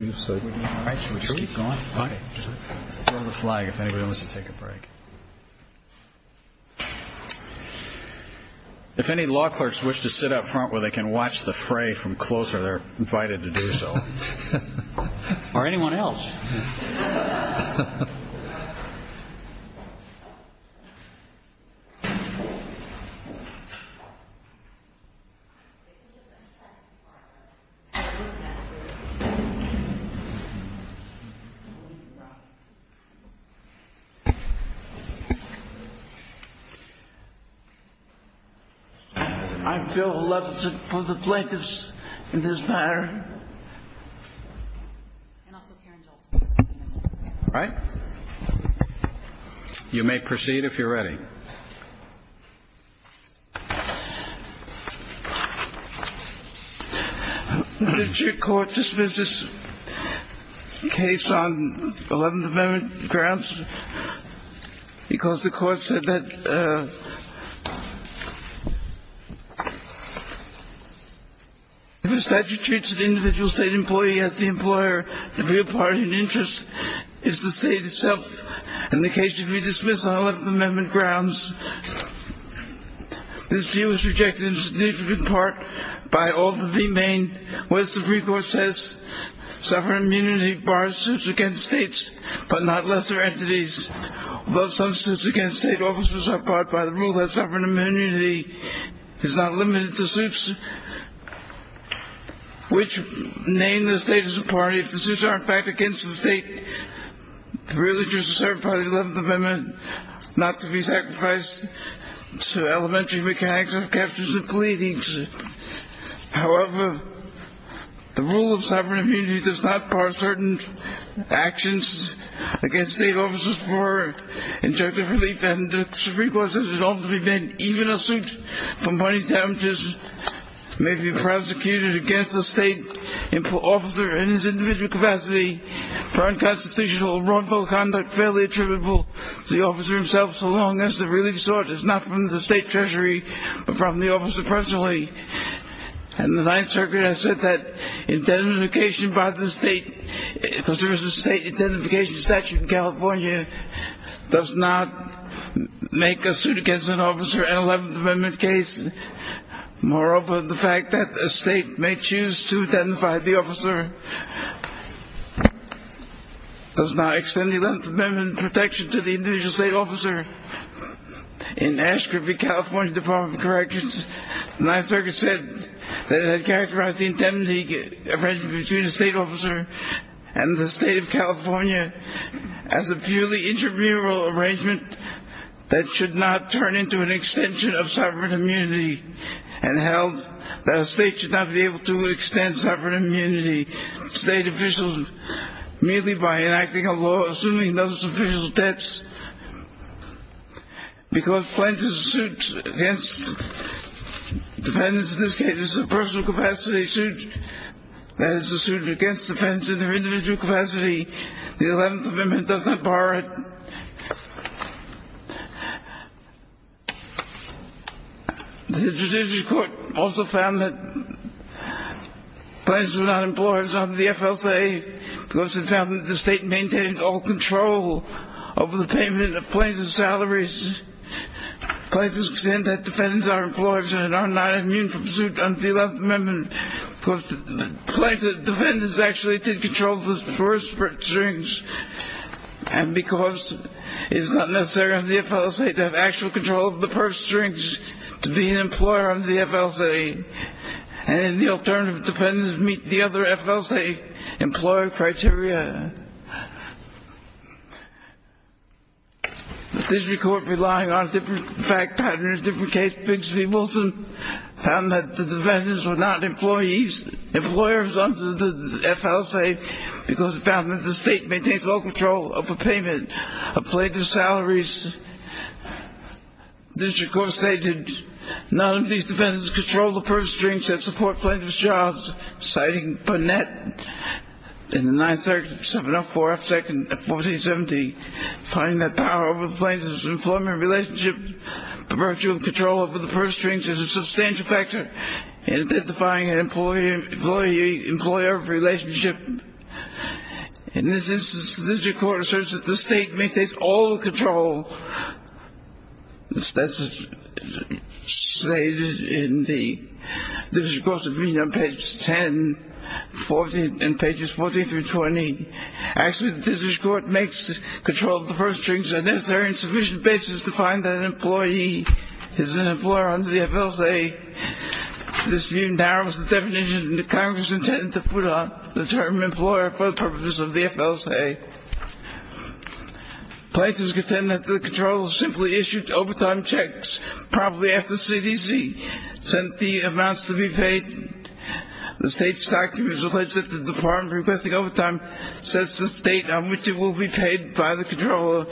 If any law clerks wish to sit up front where they can watch the fray from closer, they're invited to do so. Or anyone else. I feel elevated for the plaintiffs in this matter. All right. You may proceed if you're ready. The district court dismisses the case on 11th Amendment grounds because the court said that if a statute treats an individual state employee as the employer, the real party in interest is the state itself. And the case should be dismissed on 11th Amendment grounds. This view is rejected in significant part by all that the Maine West Supreme Court says. Sovereign immunity bars suits against states but not lesser entities, although some suits against state officers are barred by the rule that sovereign immunity is not limited to suits which name the state as a party. If the suits are, in fact, against the state, the real interest is served by the 11th Amendment not to be sacrificed to elementary mechanics of captures and pleadings. However, the rule of sovereign immunity does not bar certain actions against state officers for injunctive relief. And the Supreme Court says it ought to prevent even a suit for money damages may be prosecuted against the state officer in his individual capacity for unconstitutional or wrongful conduct fairly attributable to the officer himself so long as the relief sought is not from the state treasury but from the officer personally. And the Ninth Circuit has said that indemnification by the state, if there is a state indemnification statute in California, does not make a suit against an officer in an 11th Amendment case. Moreover, the fact that a state may choose to indemnify the officer does not extend the 11th Amendment protection to the individual state officer. In Ashcroft v. California Department of Corrections, the Ninth Circuit said that it had characterized the indemnity arrangement between a state officer and the state of California as a purely intramural arrangement that should not turn into an extension of sovereign immunity and held that a state should not be able to extend sovereign immunity to state officials merely by enacting a law assuming those officials' debts. Because plaintiff's suit against defendants in this case is a personal capacity suit, that is, a suit against defendants in their individual capacity, the 11th Amendment does not bar it. The Judiciary Court also found that plaintiffs were not employers under the FLCA because it found that the state maintained all control over the payment of plaintiffs' salaries. Plaintiffs contend that defendants are employers and are not immune from suit under the 11th Amendment because plaintiffs' defendants actually did control the purse strings and because it is not necessary under the FLCA to have actual control of the purse strings to be an employer under the FLCA and the alternative defendants meet the other FLCA employer criteria. The Judiciary Court, relying on different fact patterns in different cases, found that the defendants were not employers under the FLCA because it found that the state maintains all control over payment of plaintiffs' salaries. The Judiciary Court stated that none of these defendants controlled the purse strings that support plaintiffs' jobs, citing Burnett in the 9th Circuit, 7-0-4-F-2-1470, finding that power over the plaintiffs' employment relationship, the virtue of control over the purse strings is a substantial factor in identifying an employer-employee-employer relationship. In this instance, the Judiciary Court asserts that the state maintains all control. That's stated in the Judiciary Court's opinion on pages 10 and 14 through 20. Actually, the Judiciary Court makes control of the purse strings a necessary and sufficient basis to find that an employee is an employer under the FLCA. This view narrows the definition that Congress intended to put on the term employer for the purposes of the FLCA. Plaintiffs contend that the controllers simply issued overtime checks promptly after CDC sent the amounts to be paid. The state's documents alleged that the department requesting overtime sets the date on which it will be paid by the controller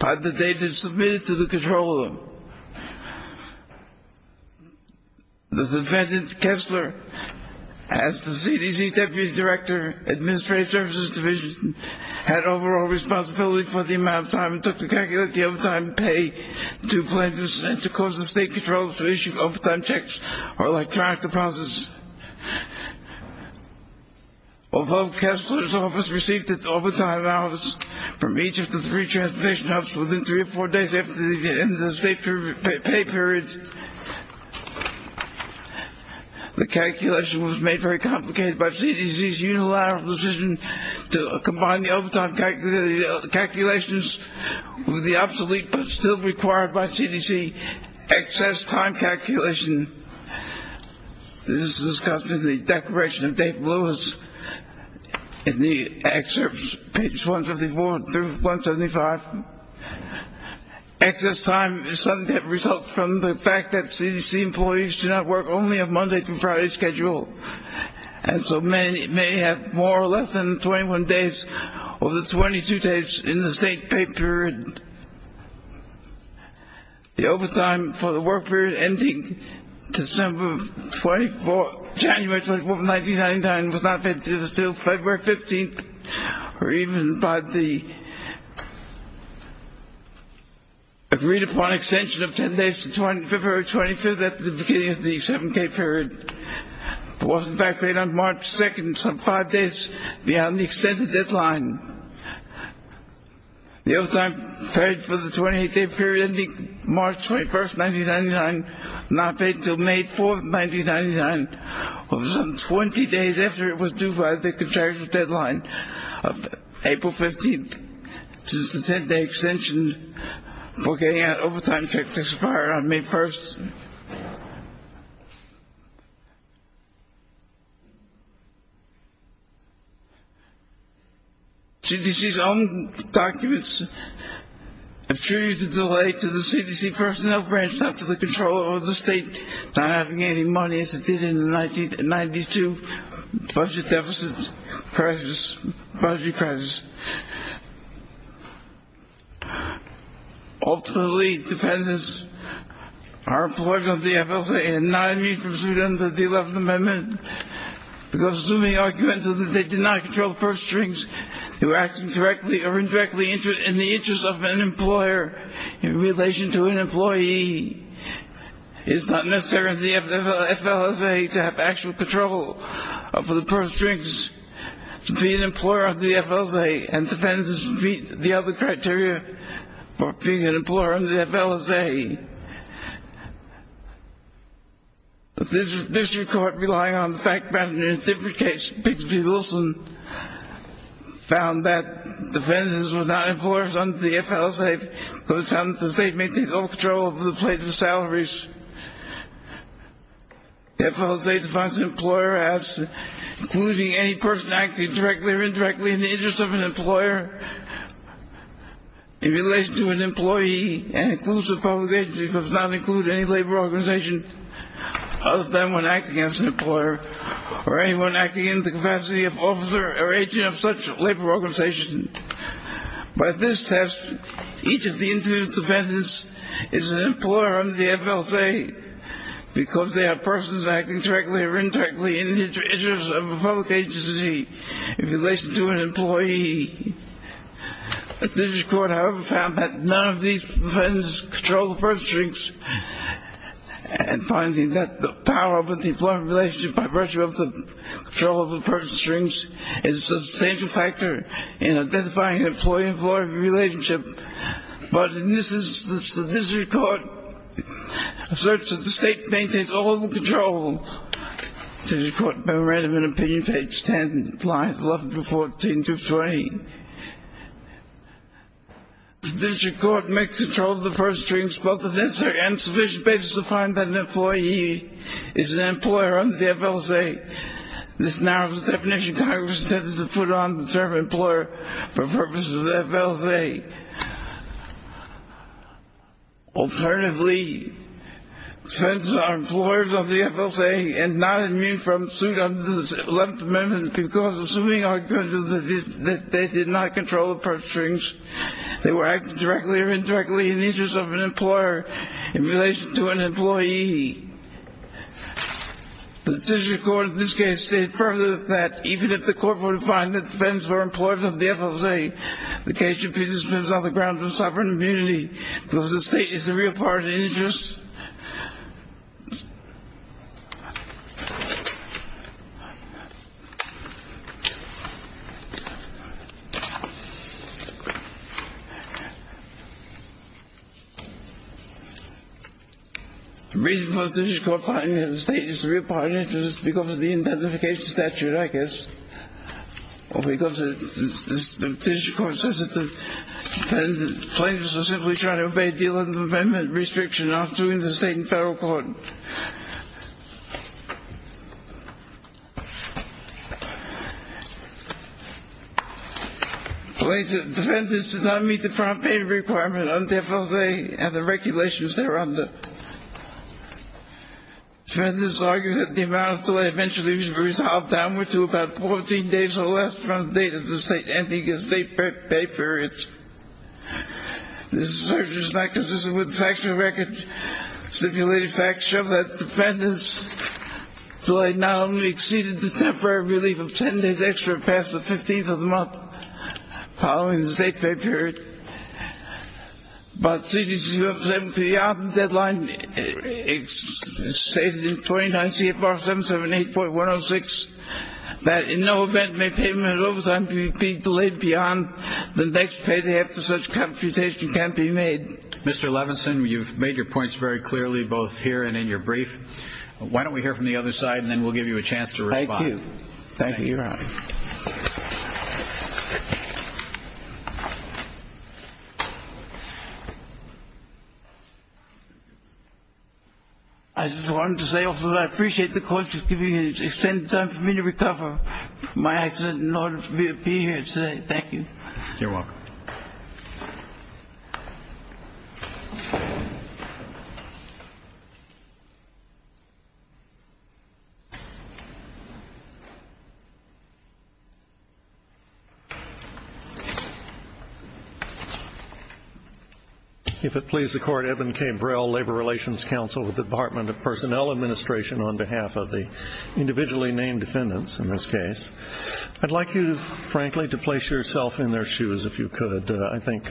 by the date it is submitted to the controller. The defendant, Kessler, as the CDC Deputy Director, Administrative Services Division, had overall responsibility for the amount of time it took to calculate the overtime pay to plaintiffs and to cause the state controllers to issue overtime checks or electronic deposits. Although Kessler's office received its overtime amounts from each of the three transportation hubs within three or four days after the end of the state pay period, the calculation was made very complicated by CDC's unilateral decision to combine the overtime calculations with the obsolete but still required by CDC excess time calculation. This is discussed in the declaration of Dave Lewis in the excerpts, pages 154 through 175. Excess time is something that results from the fact that CDC employees do not work only a Monday through Friday schedule, and so may have more or less than 21 days or the 22 days in the state pay period. The overtime for the work period ending December 24th, January 24th, 1999 was not paid until February 15th, or even by the agreed-upon extension of 10 days to February 25th at the beginning of the 7K period. It was, in fact, paid on March 2nd, some five days beyond the extended deadline. The overtime paid for the 28-day period ending March 21st, 1999 was not paid until May 4th, 1999, or some 20 days after it was due by the contracted deadline of April 15th. This is the 10-day extension for getting an overtime check expired on May 1st. CDC's own documents assure you the delay to the CDC personnel branch, not to the controller or the state, not having any money as it did in the 1992 budget deficit crisis, budget crisis. Ultimately, dependents are employees of the FSA and not immune from suit under the 11th Amendment because assuming arguments that they did not control purse strings, they were acting directly or indirectly in the interest of an employer in relation to an employee It is not necessary for the FSA to have actual control over the purse strings to be an employer of the FSA, and dependents would meet the other criteria for being an employer of the FSA. The District Court, relying on the fact found in a different case, Pigsby-Wilson, found that dependents were not employers under the FSA because it found that the state maintained all control over the plate of salaries. The FSA defines an employer as including any person acting directly or indirectly in the interest of an employer in relation to an employee, and includes a public agency, because it does not include any labor organization other than one acting as an employer or anyone acting in the capacity of officer or agent of such labor organization. By this test, each of the individual dependents is an employer under the FSA because they are persons acting directly or indirectly in the interest of a public agency in relation to an employee. The District Court, however, found that none of these dependents controlled the purse strings, and finding that the power of an employment relationship by virtue of the control of the purse strings is a substantial factor in identifying an employee-employee relationship. But in this instance, the District Court asserts that the state maintains all control. District Court Memorandum and Opinion, page 10, lines 11-14-20. The District Court makes control of the purse strings, but the necessary and sufficient basis to find that an employee is an employer under the FSA. This narrows the definition Congress intended to put on the term employer for purposes of the FSA. Alternatively, dependents are employers of the FSA and not immune from suit under the 11th Amendment because, assuming our judgment that the state did not control the purse strings, they were acting directly or indirectly in the interest of an employer in relation to an employee. The District Court in this case stated further that even if the Court were to find that dependents were employers of the FSA, the case should be dismissed on the grounds of sovereign immunity because the state is a real part of the interest. The reason for the District Court finding that the state is a real part of the interest is because of the identification statute, I guess. Or because the District Court says that the plaintiffs are simply trying to obey the 11th Amendment restriction in the State and Federal Courts. The plaintiff's defendants did not meet the front-page requirement under FSA and the regulations thereunder. Defendants argue that the amount of fill-out eventually was resolved downward to about 14 days or less from the date of the state ending the state pay period. This assertion is not consistent with the factual record. Stimulating facts show that defendants delayed not only exceeded the temporary relief of 10 days extra passed the 15th of the month following the state pay period, but CDC's 11th Amendment period deadline stated in 29 CFR 778.106 that in no event may payment of overtime be delayed beyond the next payday after such computation can be made. Mr. Levinson, you've made your points very clearly both here and in your brief. Why don't we hear from the other side and then we'll give you a chance to respond. Thank you, Your Honor. I just wanted to say also that I appreciate the court giving me an extended time for me to recover from my accident in order for me to be here today. Thank you. You're welcome. Thank you. If it please the court, Eben K. Brell, Labor Relations Counsel with the Department of Personnel Administration on behalf of the individually named defendants in this case. I'd like you, frankly, to place yourself in their shoes if you could. I think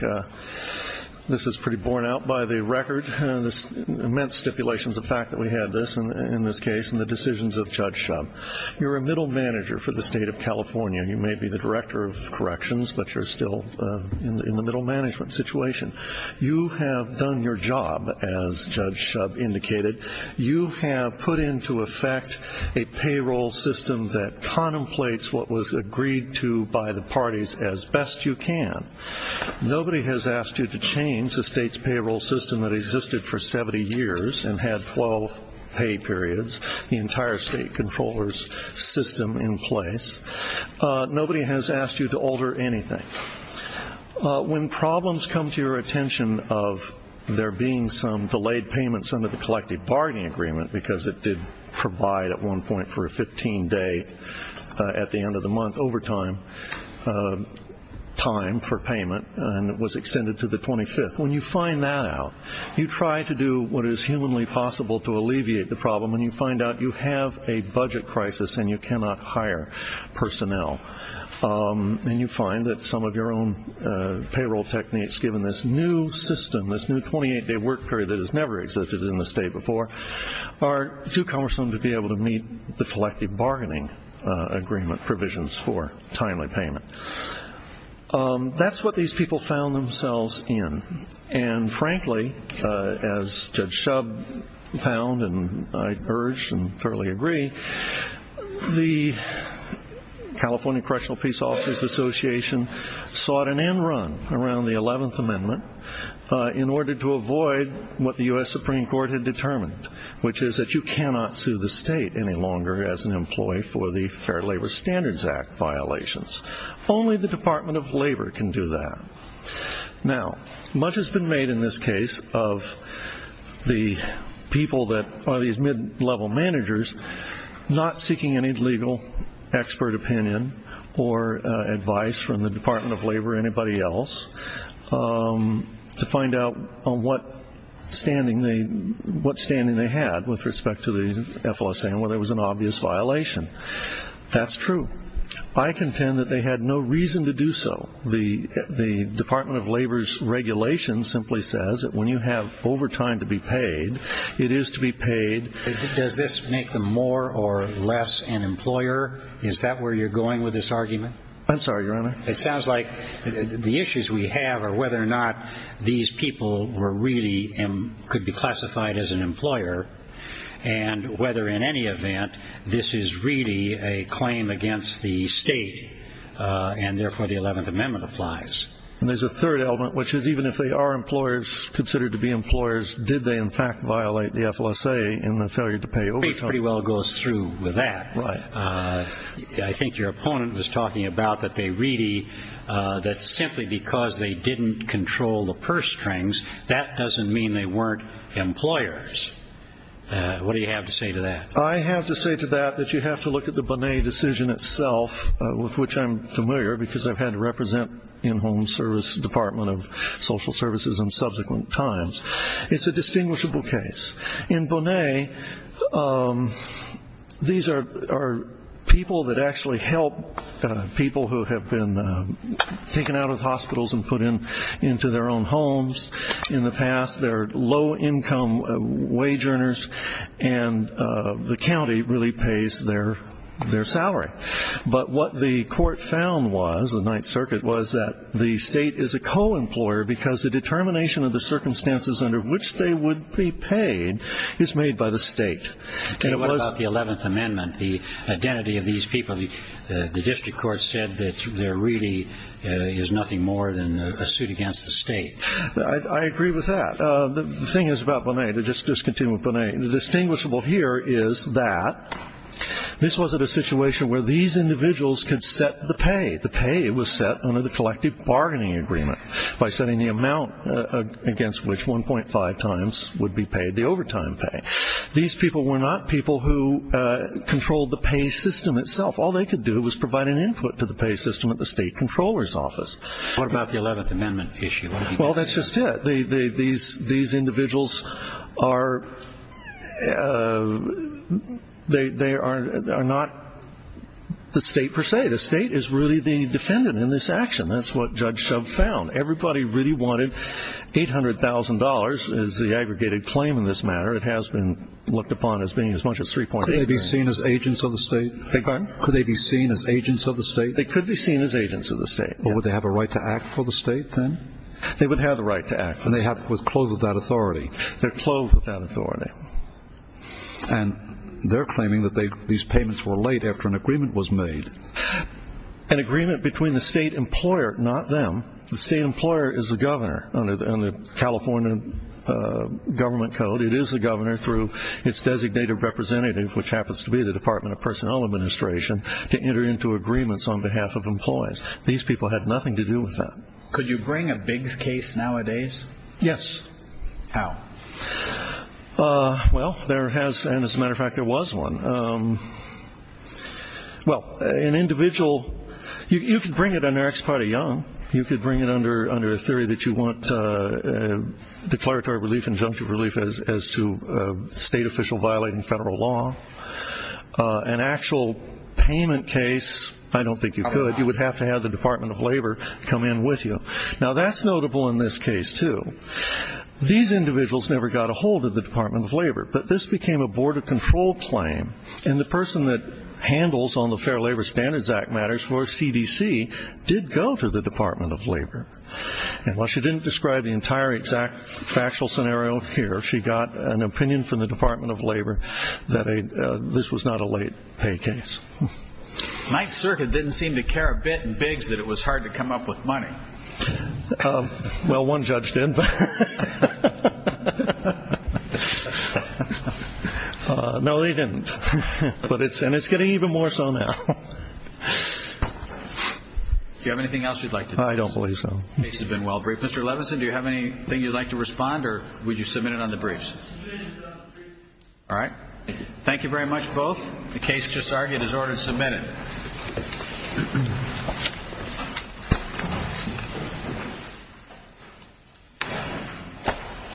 this is pretty borne out by the record, the immense stipulations of fact that we had this in this case and the decisions of Judge Shub. You're a middle manager for the state of California. You may be the director of corrections, but you're still in the middle management situation. You have done your job, as Judge Shub indicated. You have put into effect a payroll system that contemplates what was agreed to by the parties as best you can. Nobody has asked you to change the state's payroll system that existed for 70 years and had 12 pay periods. The entire state controller's system in place. Nobody has asked you to alter anything. When problems come to your attention of there being some delayed payments under the collective bargaining agreement because it did provide at one point for a 15-day at the end of the month overtime time for payment and it was extended to the 25th, when you find that out, you try to do what is humanly possible to alleviate the problem and you find out you have a budget crisis and you cannot hire personnel. You find that some of your own payroll techniques, given this new system, this new 28-day work period that has never existed in the state before, are too cumbersome to be able to meet the collective bargaining agreement provisions for timely payment. That's what these people found themselves in. And frankly, as Judge Shub found and I urge and thoroughly agree, the California Correctional Peace Officers Association sought an end run around the 11th Amendment in order to avoid what the U.S. Supreme Court had determined, which is that you cannot sue the state any longer as an employee for the Fair Labor Standards Act violations. Only the Department of Labor can do that. Now, much has been made in this case of the people that are these mid-level managers not seeking any legal expert opinion or advice from the Department of Labor or anybody else to find out what standing they had with respect to the FLSA and whether it was an obvious violation. That's true. I contend that they had no reason to do so. The Department of Labor's regulation simply says that when you have overtime to be paid, it is to be paid. Does this make them more or less an employer? Is that where you're going with this argument? I'm sorry, Your Honor. It sounds like the issues we have are whether or not these people could be classified as an employer and whether, in any event, this is really a claim against the state and therefore the 11th Amendment applies. And there's a third element, which is even if they are considered to be employers, did they in fact violate the FLSA in the failure to pay overtime? It pretty well goes through with that. Right. I think your opponent was talking about that simply because they didn't control the purse strings, that doesn't mean they weren't employers. What do you have to say to that? I have to say to that that you have to look at the Bonet decision itself, with which I'm familiar because I've had to represent in-home service, Department of Social Services in subsequent times. It's a distinguishable case. In Bonet, these are people that actually help people who have been taken out of hospitals and put into their own homes in the past. They're low-income wage earners, and the county really pays their salary. But what the court found was, the Ninth Circuit, was that the state is a co-employer because the determination of the circumstances under which they would be paid is made by the state. What about the 11th Amendment, the identity of these people? The district court said that there really is nothing more than a suit against the state. I agree with that. The thing is about Bonet, to just continue with Bonet, the distinguishable here is that this was a situation where these individuals could set the pay. The pay was set under the collective bargaining agreement by setting the amount against which 1.5 times would be paid the overtime pay. These people were not people who controlled the pay system itself. All they could do was provide an input to the pay system at the state controller's office. What about the 11th Amendment issue? Well, that's just it. These individuals are not the state per se. The state is really the defendant in this action. That's what Judge Shub found. Everybody really wanted $800,000, is the aggregated claim in this matter. It has been looked upon as being as much as $3.8 million. Could they be seen as agents of the state? Beg your pardon? Could they be seen as agents of the state? They could be seen as agents of the state. But would they have a right to act for the state then? They would have the right to act. And they're clothed with that authority. They're clothed with that authority. And they're claiming that these payments were laid after an agreement was made. An agreement between the state employer, not them. The state employer is the governor under the California government code. It is the governor through its designated representative, which happens to be the Department of Personnel Administration, to enter into agreements on behalf of employees. These people had nothing to do with that. Could you bring a big case nowadays? Yes. How? Well, there has, and as a matter of fact, there was one. Well, an individual, you could bring it under Ex parte Young. You could bring it under a theory that you want declaratory relief, injunctive relief as to a state official violating federal law. An actual payment case, I don't think you could. You would have to have the Department of Labor come in with you. Now, that's notable in this case, too. These individuals never got a hold of the Department of Labor. But this became a Board of Control claim. And the person that handles on the Fair Labor Standards Act matters for CDC did go to the Department of Labor. And while she didn't describe the entire factual scenario here, she got an opinion from the Department of Labor that this was not a late pay case. Ninth Circuit didn't seem to care a bit in Biggs that it was hard to come up with money. Well, one judge did. No, he didn't. And it's getting even more so now. Do you have anything else you'd like to do? I don't believe so. The case has been well briefed. Mr. Levinson, do you have anything you'd like to respond, or would you submit it on the briefs? Submit it on the briefs. All right. Thank you very much, both. The case just argued is ordered submitted. Thank you.